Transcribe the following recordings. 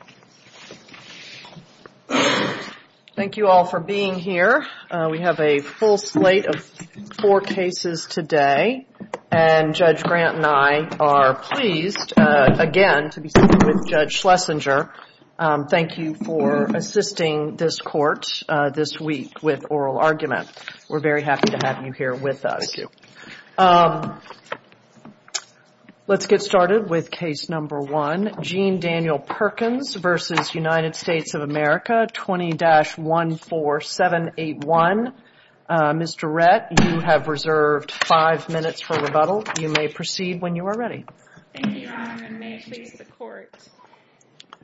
Court. Thank you all for being here. We have a full slate of four cases today, and Judge Grant and I are pleased again to be sitting with Judge Schlesinger. Thank you for assisting this court this week with oral argument. We're very happy to have you here with us. Let's get started with case number one, Jean-Daniel Perkins v. United States of America, 20-14781. Mr. Rett, you have reserved five minutes for rebuttal. You may proceed when you are ready. Thank you, Your Honor, and may it please the Court.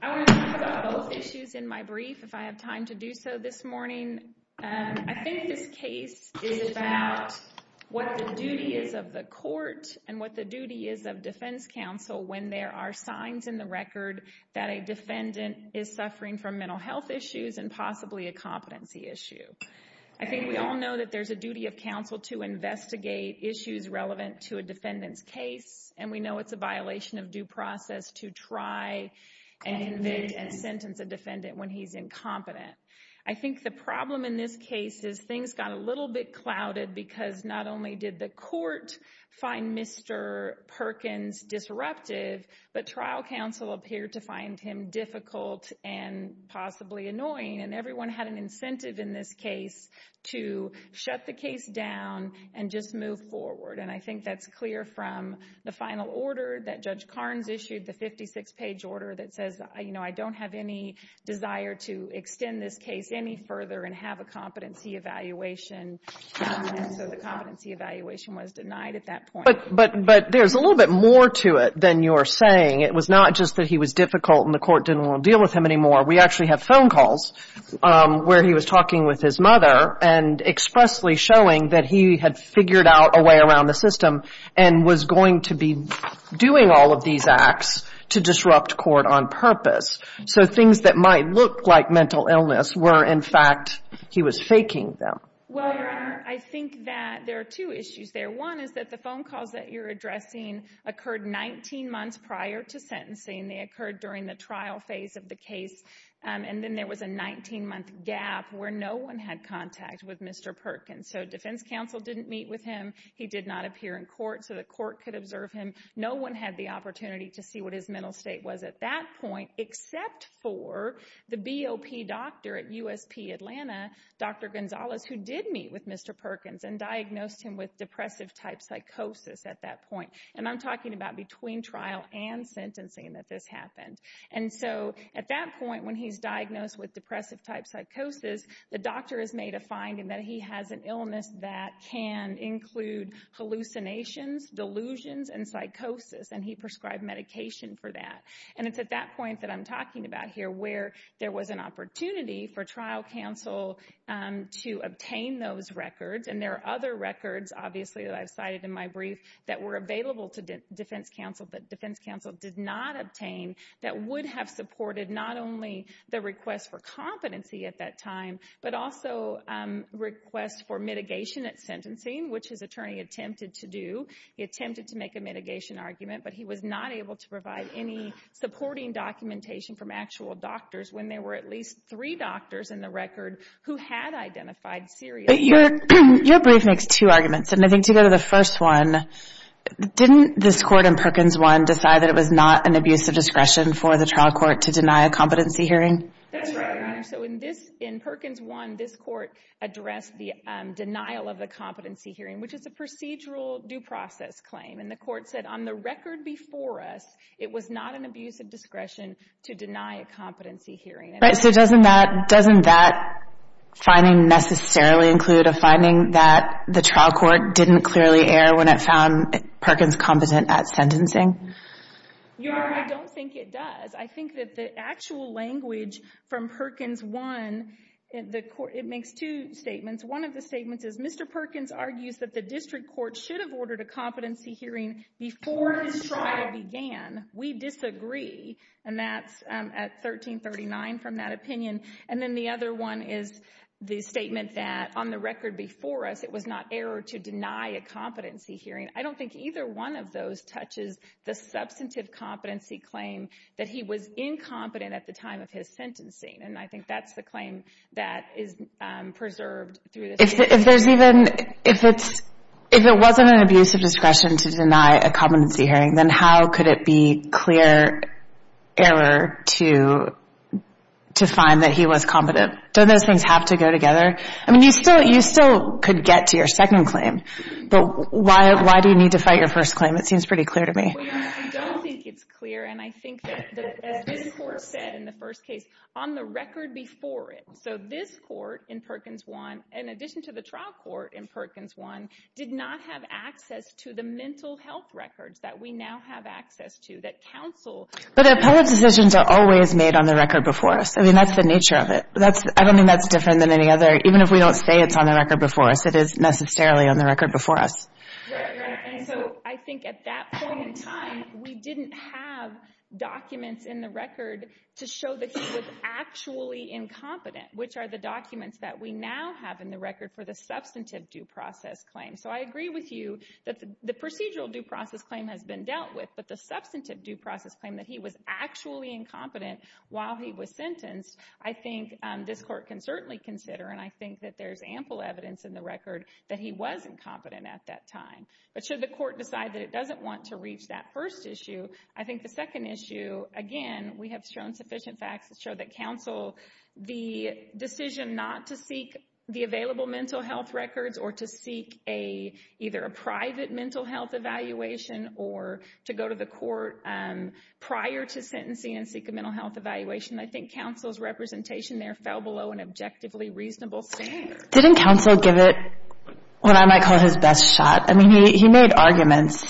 I want to talk about both issues in my brief, if I have time to do so this morning. I think this case is about what the duty is of the court and what the duty is of defense counsel when there are signs in the record that a defendant is suffering from mental health issues and possibly a competency issue. I think we all know that there's a duty of counsel to investigate issues relevant to a defendant's case, and we know it's a violation of due process to try and convict and sentence a defendant when he's incompetent. I think the problem in this case is things got a little bit clouded because not only did the court find Mr. Perkins disruptive, but trial counsel appeared to find him difficult and possibly annoying, and everyone had an incentive in this case to shut the case down and just move forward. I think that's clear from the final order that Judge Carnes issued, the 56-page order that says, I don't have any desire to But there's a little bit more to it than you're saying. It was not just that he was difficult and the court didn't want to deal with him anymore. We actually have phone calls where he was talking with his mother and expressly showing that he had figured out a way around the system and was going to be doing all of these acts to disrupt court on purpose. So things that might look like mental illness were, in fact, he was faking them. Well, Your Honor, I think that there are two issues there. One is that the phone calls that you're addressing occurred 19 months prior to sentencing. They occurred during the trial phase of the case, and then there was a 19-month gap where no one had contact with Mr. Perkins. So defense counsel didn't meet with him. He did not appear in court, so the court could observe him. No one had the opportunity to see what his mental state was at that point except for the BOP doctor at USP Atlanta, Dr. Gonzalez, who did meet with Mr. Perkins and diagnosed him with depressive-type psychosis at that point. And I'm talking about between trial and sentencing that this happened. And so at that point when he's diagnosed with depressive-type psychosis, the doctor has made a finding that he has an illness that can include hallucinations, delusions, and psychosis, and he prescribed medication for that. And it's at that point that I'm talking about here where there was an opportunity for trial counsel to obtain those records. And there are other records, obviously, that I've cited in my brief that were available to defense counsel that defense counsel did not obtain that would have supported not only the request for competency at that time, but also requests for mitigation at sentencing, which his attorney attempted to do. He attempted to make a mitigation argument, but he was not able to provide any supporting documentation from actual doctors when there were at least three doctors in the record who had identified serious... But your brief makes two arguments, and I think to go to the first one, didn't this court in Perkins 1 decide that it was not an abuse of discretion for the trial court to deny a competency hearing? That's right, Your Honor. So in this, in Perkins 1, this court addressed the denial of the competency hearing, which is a procedural due process claim. And the court said, on the record before us, it was not an abuse of discretion to deny a competency hearing. Right. So doesn't that, doesn't that finding necessarily include a finding that the trial court didn't clearly err when it found Perkins competent at sentencing? Your Honor, I don't think it does. I think that the actual language from Perkins 1, it makes two statements. One of the statements is, Mr. Perkins argues that the district court should have ordered a competency hearing before his trial began. We disagree, and that's at 1339 from that opinion. And then the other one is the statement that, on the record before us, it was not error to deny a competency hearing. I don't think either one of those touches the substantive competency claim that he was incompetent at the time of his sentencing. And I think that's the claim that is preserved through this case. If there's even, if it's, if it wasn't an abuse of discretion to deny a competency hearing, then how could it be clear error to, to find that he was competent? Don't those things have to go together? I mean, you still, you still could get to your second claim, but why, why do you need to fight your first claim? It seems pretty clear to me. Your Honor, I don't think it's clear, and I think that, as this court said in the first case, on the record before it. So this court in Perkins 1, in addition to the trial court in Perkins 1, did not have access to the mental health records that we now have access to that counsel... But appellate decisions are always made on the record before us. I mean, that's the nature of it. That's, I don't think that's different than any other. Even if we don't say it's on the record before us, it is necessarily on the record before us. Right, right. And so I think at that point in time, we didn't have documents in the record to show that he was actually incompetent, which are the documents that we now have in the record for the substantive due process claim. So I agree with you that the procedural due process claim has been dealt with, but the substantive due process claim that he was actually incompetent while he was sentenced, I think this court can certainly consider, and I think that there's ample evidence in the record that he was incompetent at that time. But should the court decide that it doesn't want to reach that first issue, I think the second issue, again, we have shown sufficient facts to show that counsel, the decision not to seek the available mental health records or to seek either a private mental health evaluation or to go to the court prior to sentencing and seek a mental health evaluation, I think counsel's representation there fell below an objectively reasonable standard. Didn't counsel give it what I might call his best shot? I mean, he made arguments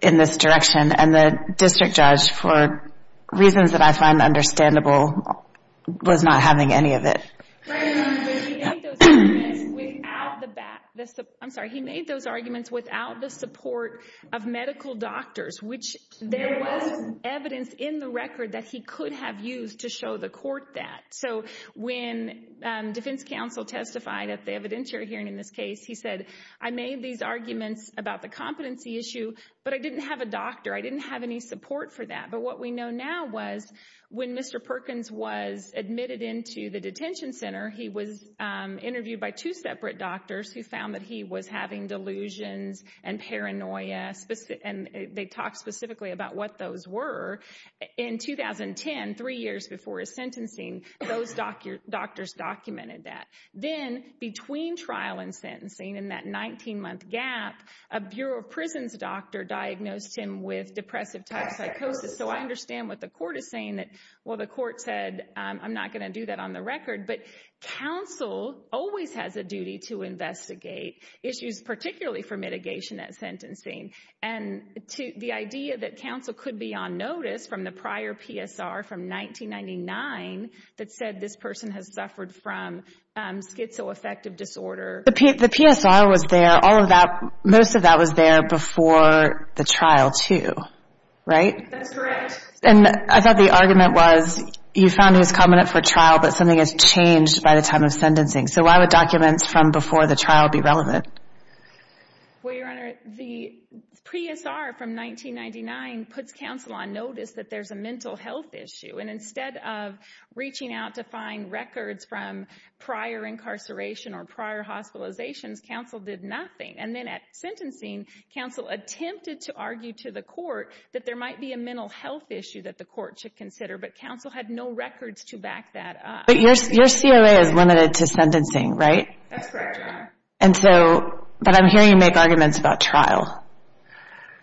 in this direction and the district judge, for reasons that I find understandable, was not having any of it. Right, but he made those arguments without the back, I'm sorry, he made those arguments without the support of medical doctors, which there was evidence in the record that he could have used to show the court that. So when defense counsel testified at the evidentiary hearing in this case, he said, I made these arguments about the competency issue, but I didn't have a doctor, I didn't have any support for that. But what we know now was when Mr. Perkins was admitted into the detention center, he was interviewed by two separate doctors who found that he was having delusions and paranoia, and they talked specifically about what those were. In 2010, three years before his sentencing, those doctors documented that. Then, between trial and sentencing, in that 19-month gap, a Bureau of Prisons doctor diagnosed him with depressive type psychosis. So I understand what the court is saying, that, well, the court said, I'm not going to do that on the record, but counsel always has a duty to investigate issues, particularly for mitigation at sentencing. And the idea that counsel could be on notice from the prior PSR from 1999 that said this person has suffered from schizoaffective disorder. The PSR was there, all of that, most of that was there before the trial, too, right? That's correct. And I thought the argument was, you found he was competent for trial, but something has changed by the time of sentencing. So why would documents from before the trial be relevant? Well, Your Honor, the PSR from 1999 puts counsel on notice that there's a mental health issue. And instead of reaching out to find records from prior incarceration or prior hospitalizations, counsel did nothing. And then at sentencing, counsel attempted to argue to the court that there might be a mental health issue that the court should consider, but counsel had no records to back that up. But your COA is limited to sentencing, right? That's correct, Your Honor. And so, but I'm hearing you make arguments about trial.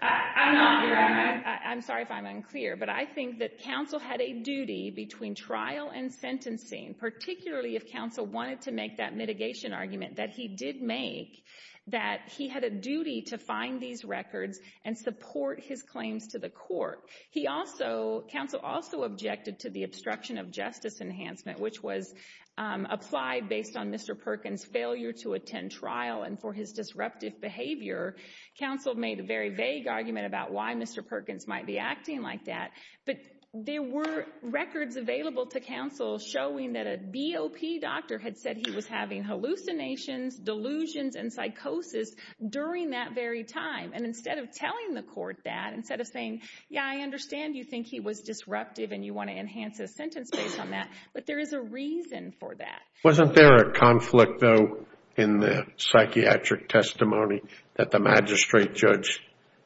I'm not, Your Honor. I'm sorry if I'm unclear, but I think that counsel had a duty between trial and sentencing, particularly if counsel wanted to make that mitigation argument that he did make, that he had a duty to find these records and support his claims to the court. He also, counsel also objected to the obstruction of justice enhancement, which was applied based on Mr. Perkins' failure to attend trial and for his disruptive behavior. Counsel made a very vague argument about why Mr. Perkins might be acting like that. But there were records available to counsel showing that a BOP doctor had said he was having hallucinations, delusions, and psychosis during that very time. And instead of telling the court that, instead of saying, yeah, I understand you think he was disruptive and you want to enhance his sentence based on that, but there is a reason for that. Wasn't there a conflict, though, in the psychiatric testimony that the magistrate judge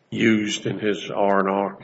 used in his R&R?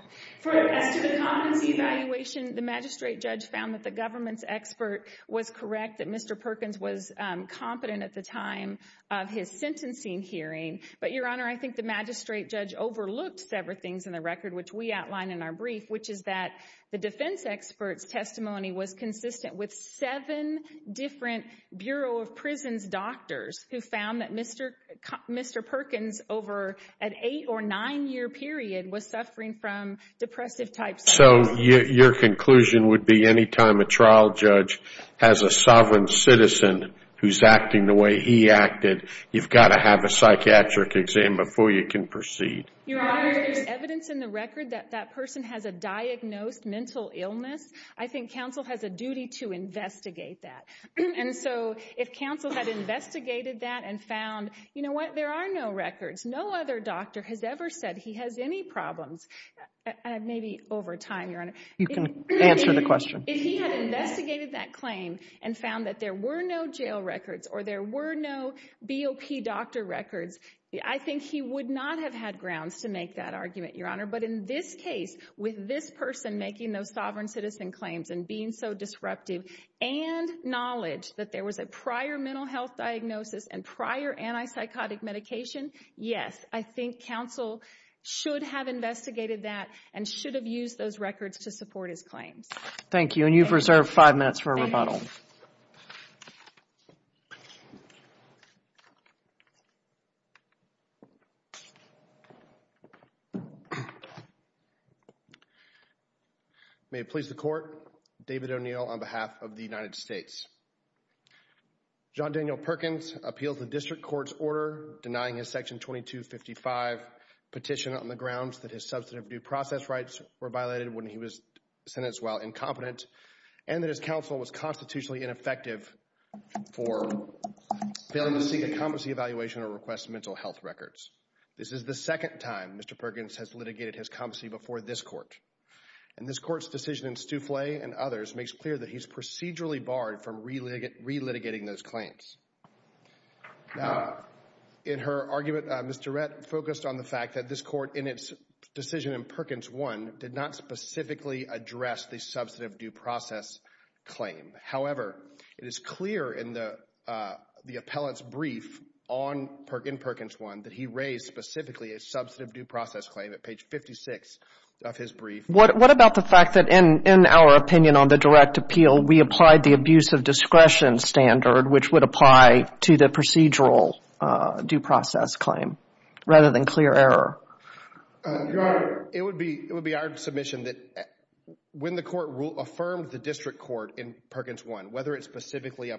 As to the competency evaluation, the magistrate judge found that the government's expert was correct, that Mr. Perkins was competent at the time of his sentencing hearing. But Your Honor, I think the magistrate judge overlooked several things in the record which we outlined in our brief, which is that the defense expert's testimony was consistent with seven different Bureau of Prisons doctors who found that Mr. Perkins, over an eight or nine-year period, was suffering from depressive types. So your conclusion would be any time a trial judge has a sovereign citizen who's acting the way he acted, you've got to have a psychiatric exam before you can proceed? Your Honor, there's evidence in the record that that person has a diagnosed mental illness. I think counsel has a duty to investigate that. And so if counsel had investigated that and found, you know what, there are no records, no other doctor has ever said he has any problems, maybe over time, Your Honor. You can answer the question. If he had investigated that claim and found that there were no jail records or there were no BOP doctor records, I think he would not have had grounds to make that argument, Your Honor. In this case, with this person making those sovereign citizen claims and being so disruptive and knowledge that there was a prior mental health diagnosis and prior antipsychotic medication, yes, I think counsel should have investigated that and should have used those records to support his claims. And you've reserved five minutes for a rebuttal. Rebuttal. May it please the Court, David O'Neill on behalf of the United States. John Daniel Perkins appealed the district court's order denying his section 2255 petition on the grounds that his substantive due process rights were violated when he was sentenced while incompetent and that his counsel was constitutionally ineffective for failing to seek a competency evaluation or request mental health records. This is the second time Mr. Perkins has litigated his competency before this court. And this court's decision in Stouffle and others makes clear that he's procedurally barred from relitigating those claims. Now, in her argument, Mr. Rett focused on the fact that this court in its decision in address the substantive due process claim. However, it is clear in the appellant's brief in Perkins 1 that he raised specifically a substantive due process claim at page 56 of his brief. What about the fact that in our opinion on the direct appeal, we applied the abuse of discretion standard which would apply to the procedural due process claim rather than clear error? Your Honor. It would be our submission that when the court affirmed the district court in Perkins 1, whether it specifically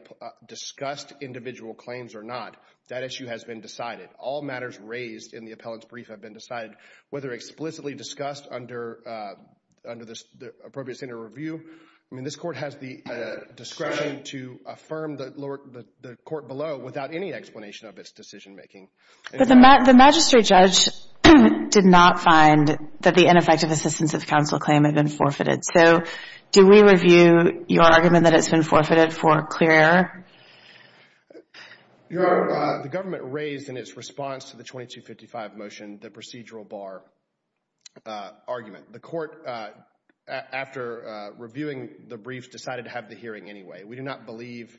discussed individual claims or not, that issue has been decided. All matters raised in the appellant's brief have been decided. Whether explicitly discussed under the appropriate standard of review, I mean, this court has the discretion to affirm the court below without any explanation of its decision making. But the magistrate judge did not find that the ineffective assistance of counsel claim had been forfeited. So do we review your argument that it's been forfeited for clear error? Your Honor, the government raised in its response to the 2255 motion the procedural bar argument. The court, after reviewing the brief, decided to have the hearing anyway. We do not believe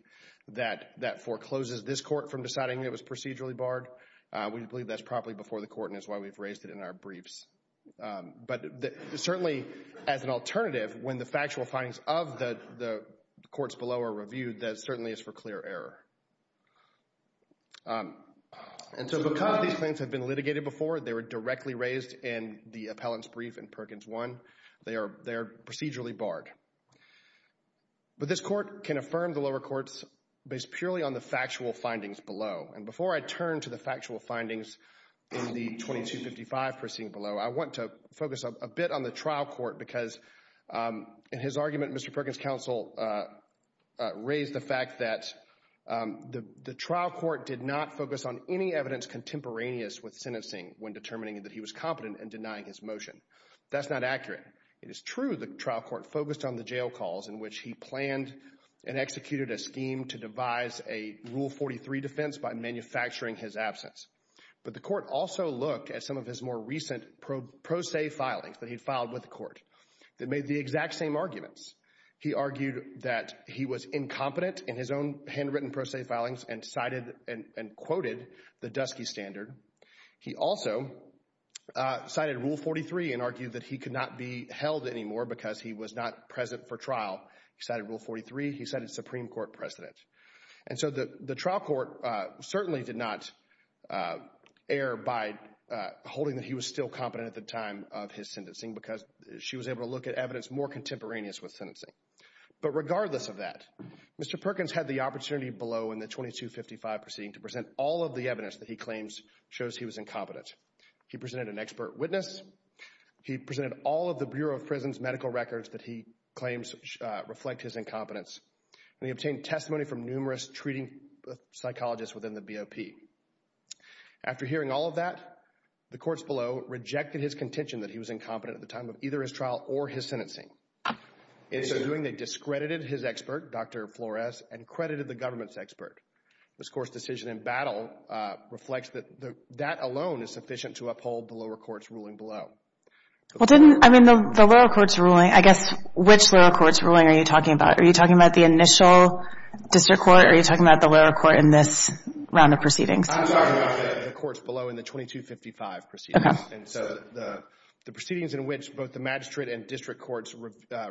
that that forecloses this court from deciding it was procedurally barred. We believe that's properly before the court and that's why we've raised it in our briefs. But certainly, as an alternative, when the factual findings of the courts below are reviewed, that certainly is for clear error. And so because these claims have been litigated before, they were directly raised in the appellant's brief in Perkins 1, they are procedurally barred. But this court can affirm the lower courts based purely on the factual findings below. And before I turn to the factual findings in the 2255 proceeding below, I want to focus a bit on the trial court because in his argument, Mr. Perkins' counsel raised the fact that the trial court did not focus on any evidence contemporaneous with sentencing when determining that he was competent in denying his motion. That's not accurate. It is true the trial court focused on the jail calls in which he planned and executed a scheme to devise a Rule 43 defense by manufacturing his absence. But the court also looked at some of his more recent pro se filings that he filed with the court that made the exact same arguments. He argued that he was incompetent in his own handwritten pro se filings and cited and quoted the Dusky Standard. He also cited Rule 43 and argued that he could not be held anymore because he was not present for trial. He cited Rule 43. He cited Supreme Court precedent. And so the trial court certainly did not err by holding that he was still competent at the time of his sentencing because she was able to look at evidence more contemporaneous with sentencing. But regardless of that, Mr. Perkins had the opportunity below in the 2255 proceeding to show he was incompetent. He presented an expert witness. He presented all of the Bureau of Prisons medical records that he claims reflect his incompetence. And he obtained testimony from numerous treating psychologists within the BOP. After hearing all of that, the courts below rejected his contention that he was incompetent at the time of either his trial or his sentencing. In so doing, they discredited his expert, Dr. Flores, and credited the government's expert. Ms. Gore's decision in battle reflects that that alone is sufficient to uphold the lower court's ruling below. Well, didn't, I mean, the lower court's ruling, I guess, which lower court's ruling are you talking about? Are you talking about the initial district court or are you talking about the lower court in this round of proceedings? I'm talking about the courts below in the 2255 proceedings. Okay. And so the proceedings in which both the magistrate and district courts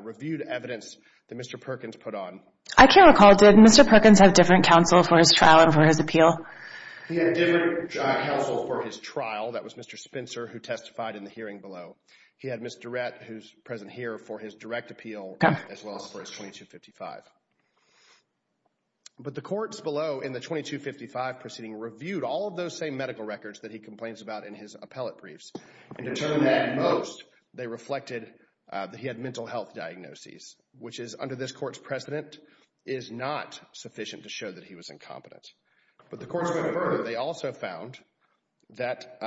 reviewed evidence that Mr. Perkins put on. I can't recall. Did Mr. Perkins have different counsel for his trial and for his appeal? He had different counsel for his trial. That was Mr. Spencer who testified in the hearing below. He had Ms. Durrett, who's present here, for his direct appeal as well as for his 2255. But the courts below in the 2255 proceeding reviewed all of those same medical records that he complains about in his appellate briefs. And to determine that most, they reflected that he had mental health diagnoses, which is under this court's precedent, is not sufficient to show that he was incompetent. But the courts further, they also found that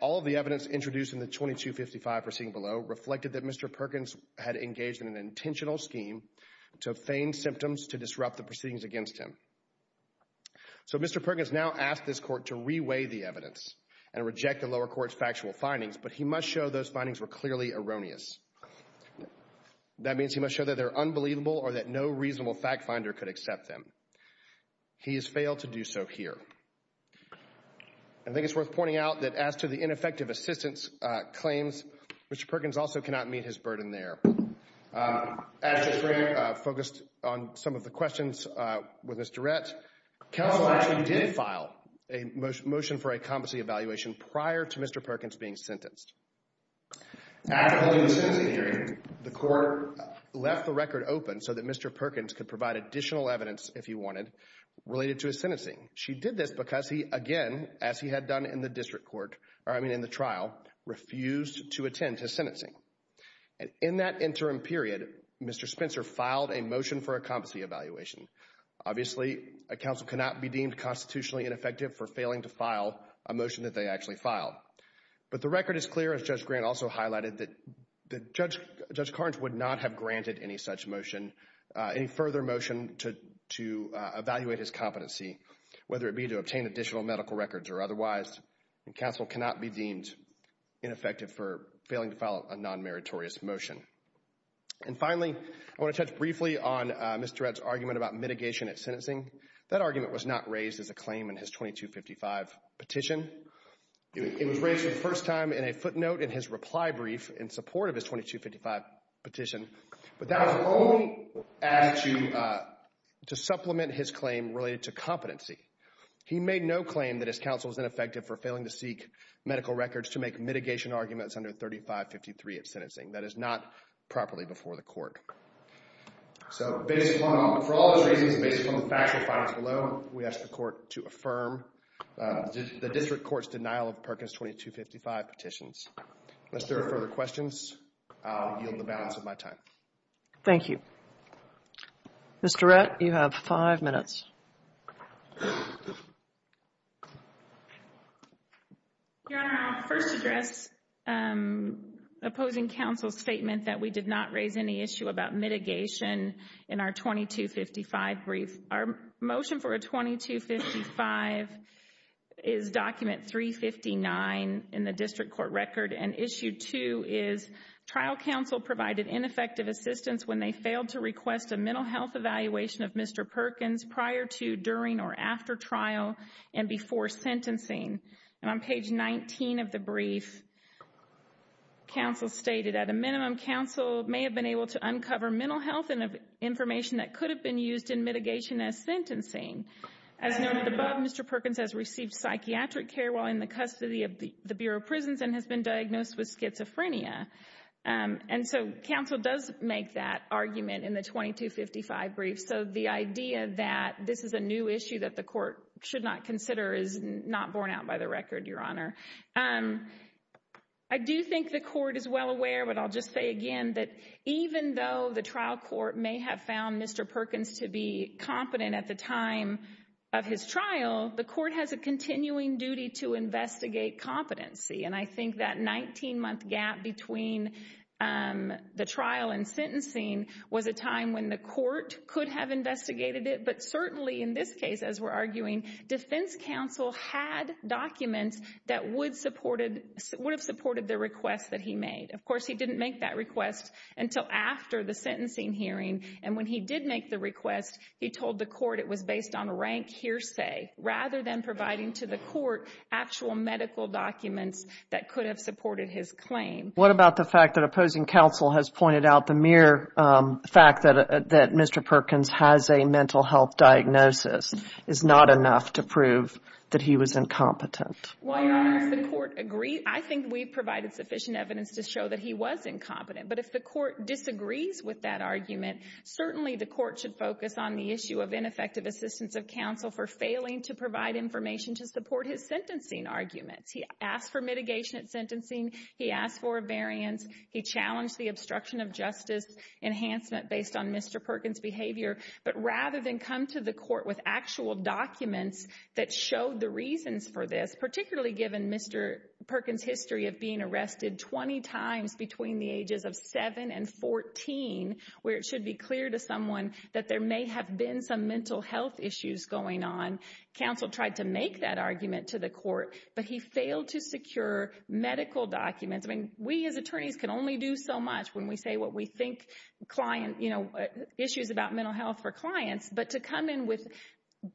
all the evidence introduced in the 2255 proceeding below reflected that Mr. Perkins had engaged in an intentional scheme to feign symptoms to disrupt the proceedings against him. So Mr. Perkins now asked this court to reweigh the evidence and reject the lower court's factual findings. But he must show those findings were clearly erroneous. That means he must show that they're unbelievable or that no reasonable fact finder could accept them. He has failed to do so here. I think it's worth pointing out that as to the ineffective assistance claims, Mr. Perkins also cannot meet his burden there. As we focused on some of the questions with Ms. Durrett, counsel actually did file a motion for a competency evaluation prior to Mr. Perkins being sentenced. After holding the sentencing hearing, the court left the record open so that Mr. Perkins could provide additional evidence, if he wanted, related to his sentencing. She did this because he, again, as he had done in the district court, or I mean in the trial, refused to attend his sentencing. In that interim period, Mr. Spencer filed a motion for a competency evaluation. Obviously, a counsel cannot be deemed constitutionally ineffective for failing to file a motion that they actually filed. But the record is clear, as Judge Grant also highlighted, that Judge Carnes would not have granted any such motion, any further motion to evaluate his competency, whether it be to obtain additional medical records or otherwise. Counsel cannot be deemed ineffective for failing to file a non-meritorious motion. And finally, I want to touch briefly on Ms. Durrett's argument about mitigation at sentencing. That argument was not raised as a claim in his 2255 petition. It was raised for the first time in a footnote in his reply brief in support of his 2255 petition. But that was only added to supplement his claim related to competency. He made no claim that his counsel was ineffective for failing to seek medical records to make mitigation arguments under 3553 of sentencing. That is not properly before the court. So based upon, for all those reasons, based upon the factual findings below, we ask the District Court's denial of Perkins 2255 petitions. If there are further questions, I will yield the balance of my time. Thank you. Ms. Durrett, you have five minutes. Your Honor, I will first address opposing counsel's statement that we did not raise any issue about mitigation in our 2255 brief. Our motion for a 2255 is document 359 in the District Court record and issue 2 is trial counsel provided ineffective assistance when they failed to request a mental health evaluation of Mr. Perkins prior to, during, or after trial and before sentencing. And on page 19 of the brief, counsel stated, at a minimum, counsel may have been able to As noted above, Mr. Perkins has received psychiatric care while in the custody of the Bureau of Prisons and has been diagnosed with schizophrenia. And so counsel does make that argument in the 2255 brief. So the idea that this is a new issue that the court should not consider is not borne out by the record, Your Honor. I do think the court is well aware, but I'll just say again, that even though the trial court may have found Mr. Perkins to be competent at the time of his trial, the court has a continuing duty to investigate competency. And I think that 19-month gap between the trial and sentencing was a time when the court could have investigated it, but certainly in this case, as we're arguing, defense counsel had documents that would have supported the request that he made. Of course, he didn't make that request until after the sentencing hearing. And when he did make the request, he told the court it was based on a rank hearsay rather than providing to the court actual medical documents that could have supported his claim. What about the fact that opposing counsel has pointed out the mere fact that Mr. Perkins has a mental health diagnosis is not enough to prove that he was incompetent? Well, Your Honor, does the court agree? I think we provided sufficient evidence to show that he was incompetent, but if the court disagrees with that argument, certainly the court should focus on the issue of ineffective assistance of counsel for failing to provide information to support his sentencing arguments. He asked for mitigation at sentencing, he asked for a variance, he challenged the obstruction of justice enhancement based on Mr. Perkins' behavior, but rather than come to the court with actual documents that showed the reasons for this, particularly given Mr. Perkins' history of being arrested 20 times between the ages of 7 and 14, where it should be clear to someone that there may have been some mental health issues going on. Counsel tried to make that argument to the court, but he failed to secure medical documents. I mean, we as attorneys can only do so much when we say what we think issues about mental health for clients, but to come in with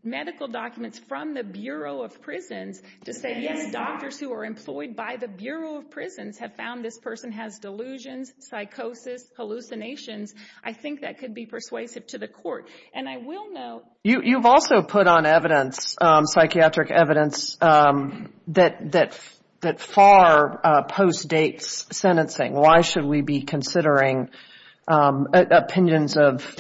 medical documents from the Bureau of Prisons to say, yes, doctors who are employed by the Bureau of Prisons have found this person has delusions, psychosis, hallucinations, I think that could be persuasive to the court. And I will note... You've also put on evidence, psychiatric evidence, that far post-dates sentencing. Why should we be considering opinions of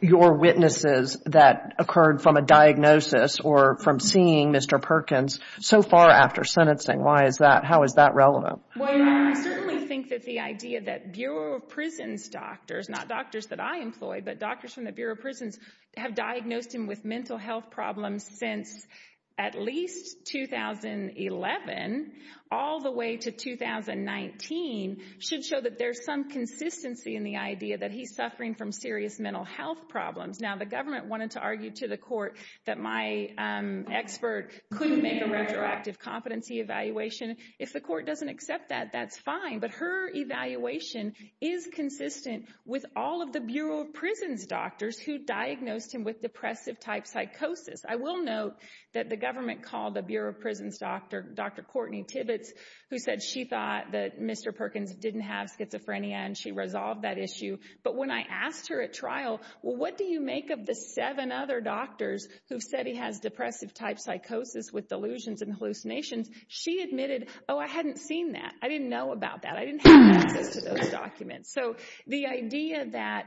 your witnesses that occurred from a diagnosis or from seeing Mr. Perkins so far after sentencing? Why is that? How is that relevant? Well, I certainly think that the idea that Bureau of Prisons doctors, not doctors that I employ, but doctors from the Bureau of Prisons have diagnosed him with mental health problems since at least 2011 all the way to 2019 should show that there's some consistency in the idea that he's suffering from serious mental health problems. Now, the government wanted to argue to the court that my expert couldn't make a retroactive competency evaluation. If the court doesn't accept that, that's fine. But her evaluation is consistent with all of the Bureau of Prisons doctors who diagnosed him with depressive-type psychosis. I will note that the government called the Bureau of Prisons doctor, Dr. Courtney Tibbetts, who said she thought that Mr. Perkins didn't have schizophrenia and she resolved that issue. But when I asked her at trial, well, what do you make of the seven other doctors who said he has depressive-type psychosis with delusions and hallucinations? She admitted, oh, I hadn't seen that. I didn't know about that. I didn't have access to those documents. So the idea that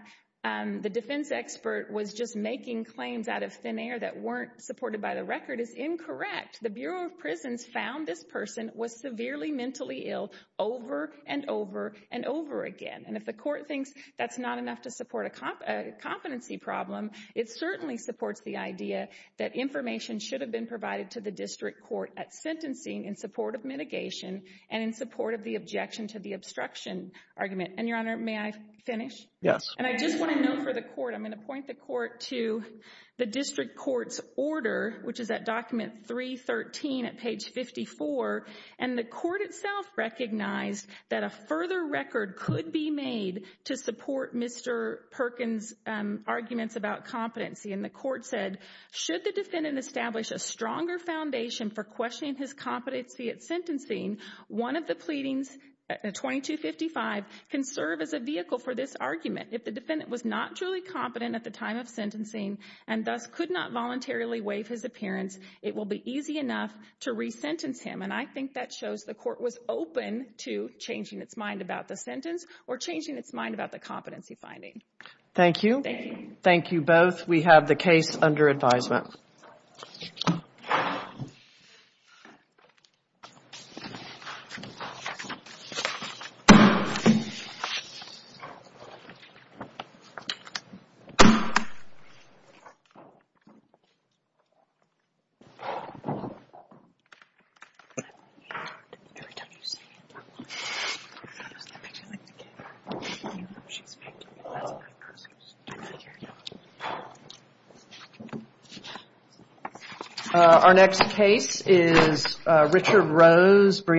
the defense expert was just making claims out of thin air that weren't supported by the record is incorrect. The Bureau of Prisons found this person was severely mentally ill over and over and over again. And if the court thinks that's not enough to support a competency problem, it certainly supports the idea that information should have been provided to the district court at sentencing in support of mitigation and in support of the objection to the obstruction argument. And, Your Honor, may I finish? Yes. And I just want to note for the court, I'm going to point the court to the district court's order, which is at document 313 at page 54. And the court itself recognized that a further record could be made to support Mr. Perkins' arguments about competency. And the court said, should the defendant establish a stronger foundation for questioning his can serve as a vehicle for this argument. If the defendant was not truly competent at the time of sentencing and thus could not voluntarily waive his appearance, it will be easy enough to resentence him. And I think that shows the court was open to changing its mind about the sentence or changing its mind about the competency finding. Thank you. Thank you. Thank you both. We have the case under advisement. Thank you, Artemis. Our next case is Richard Rose—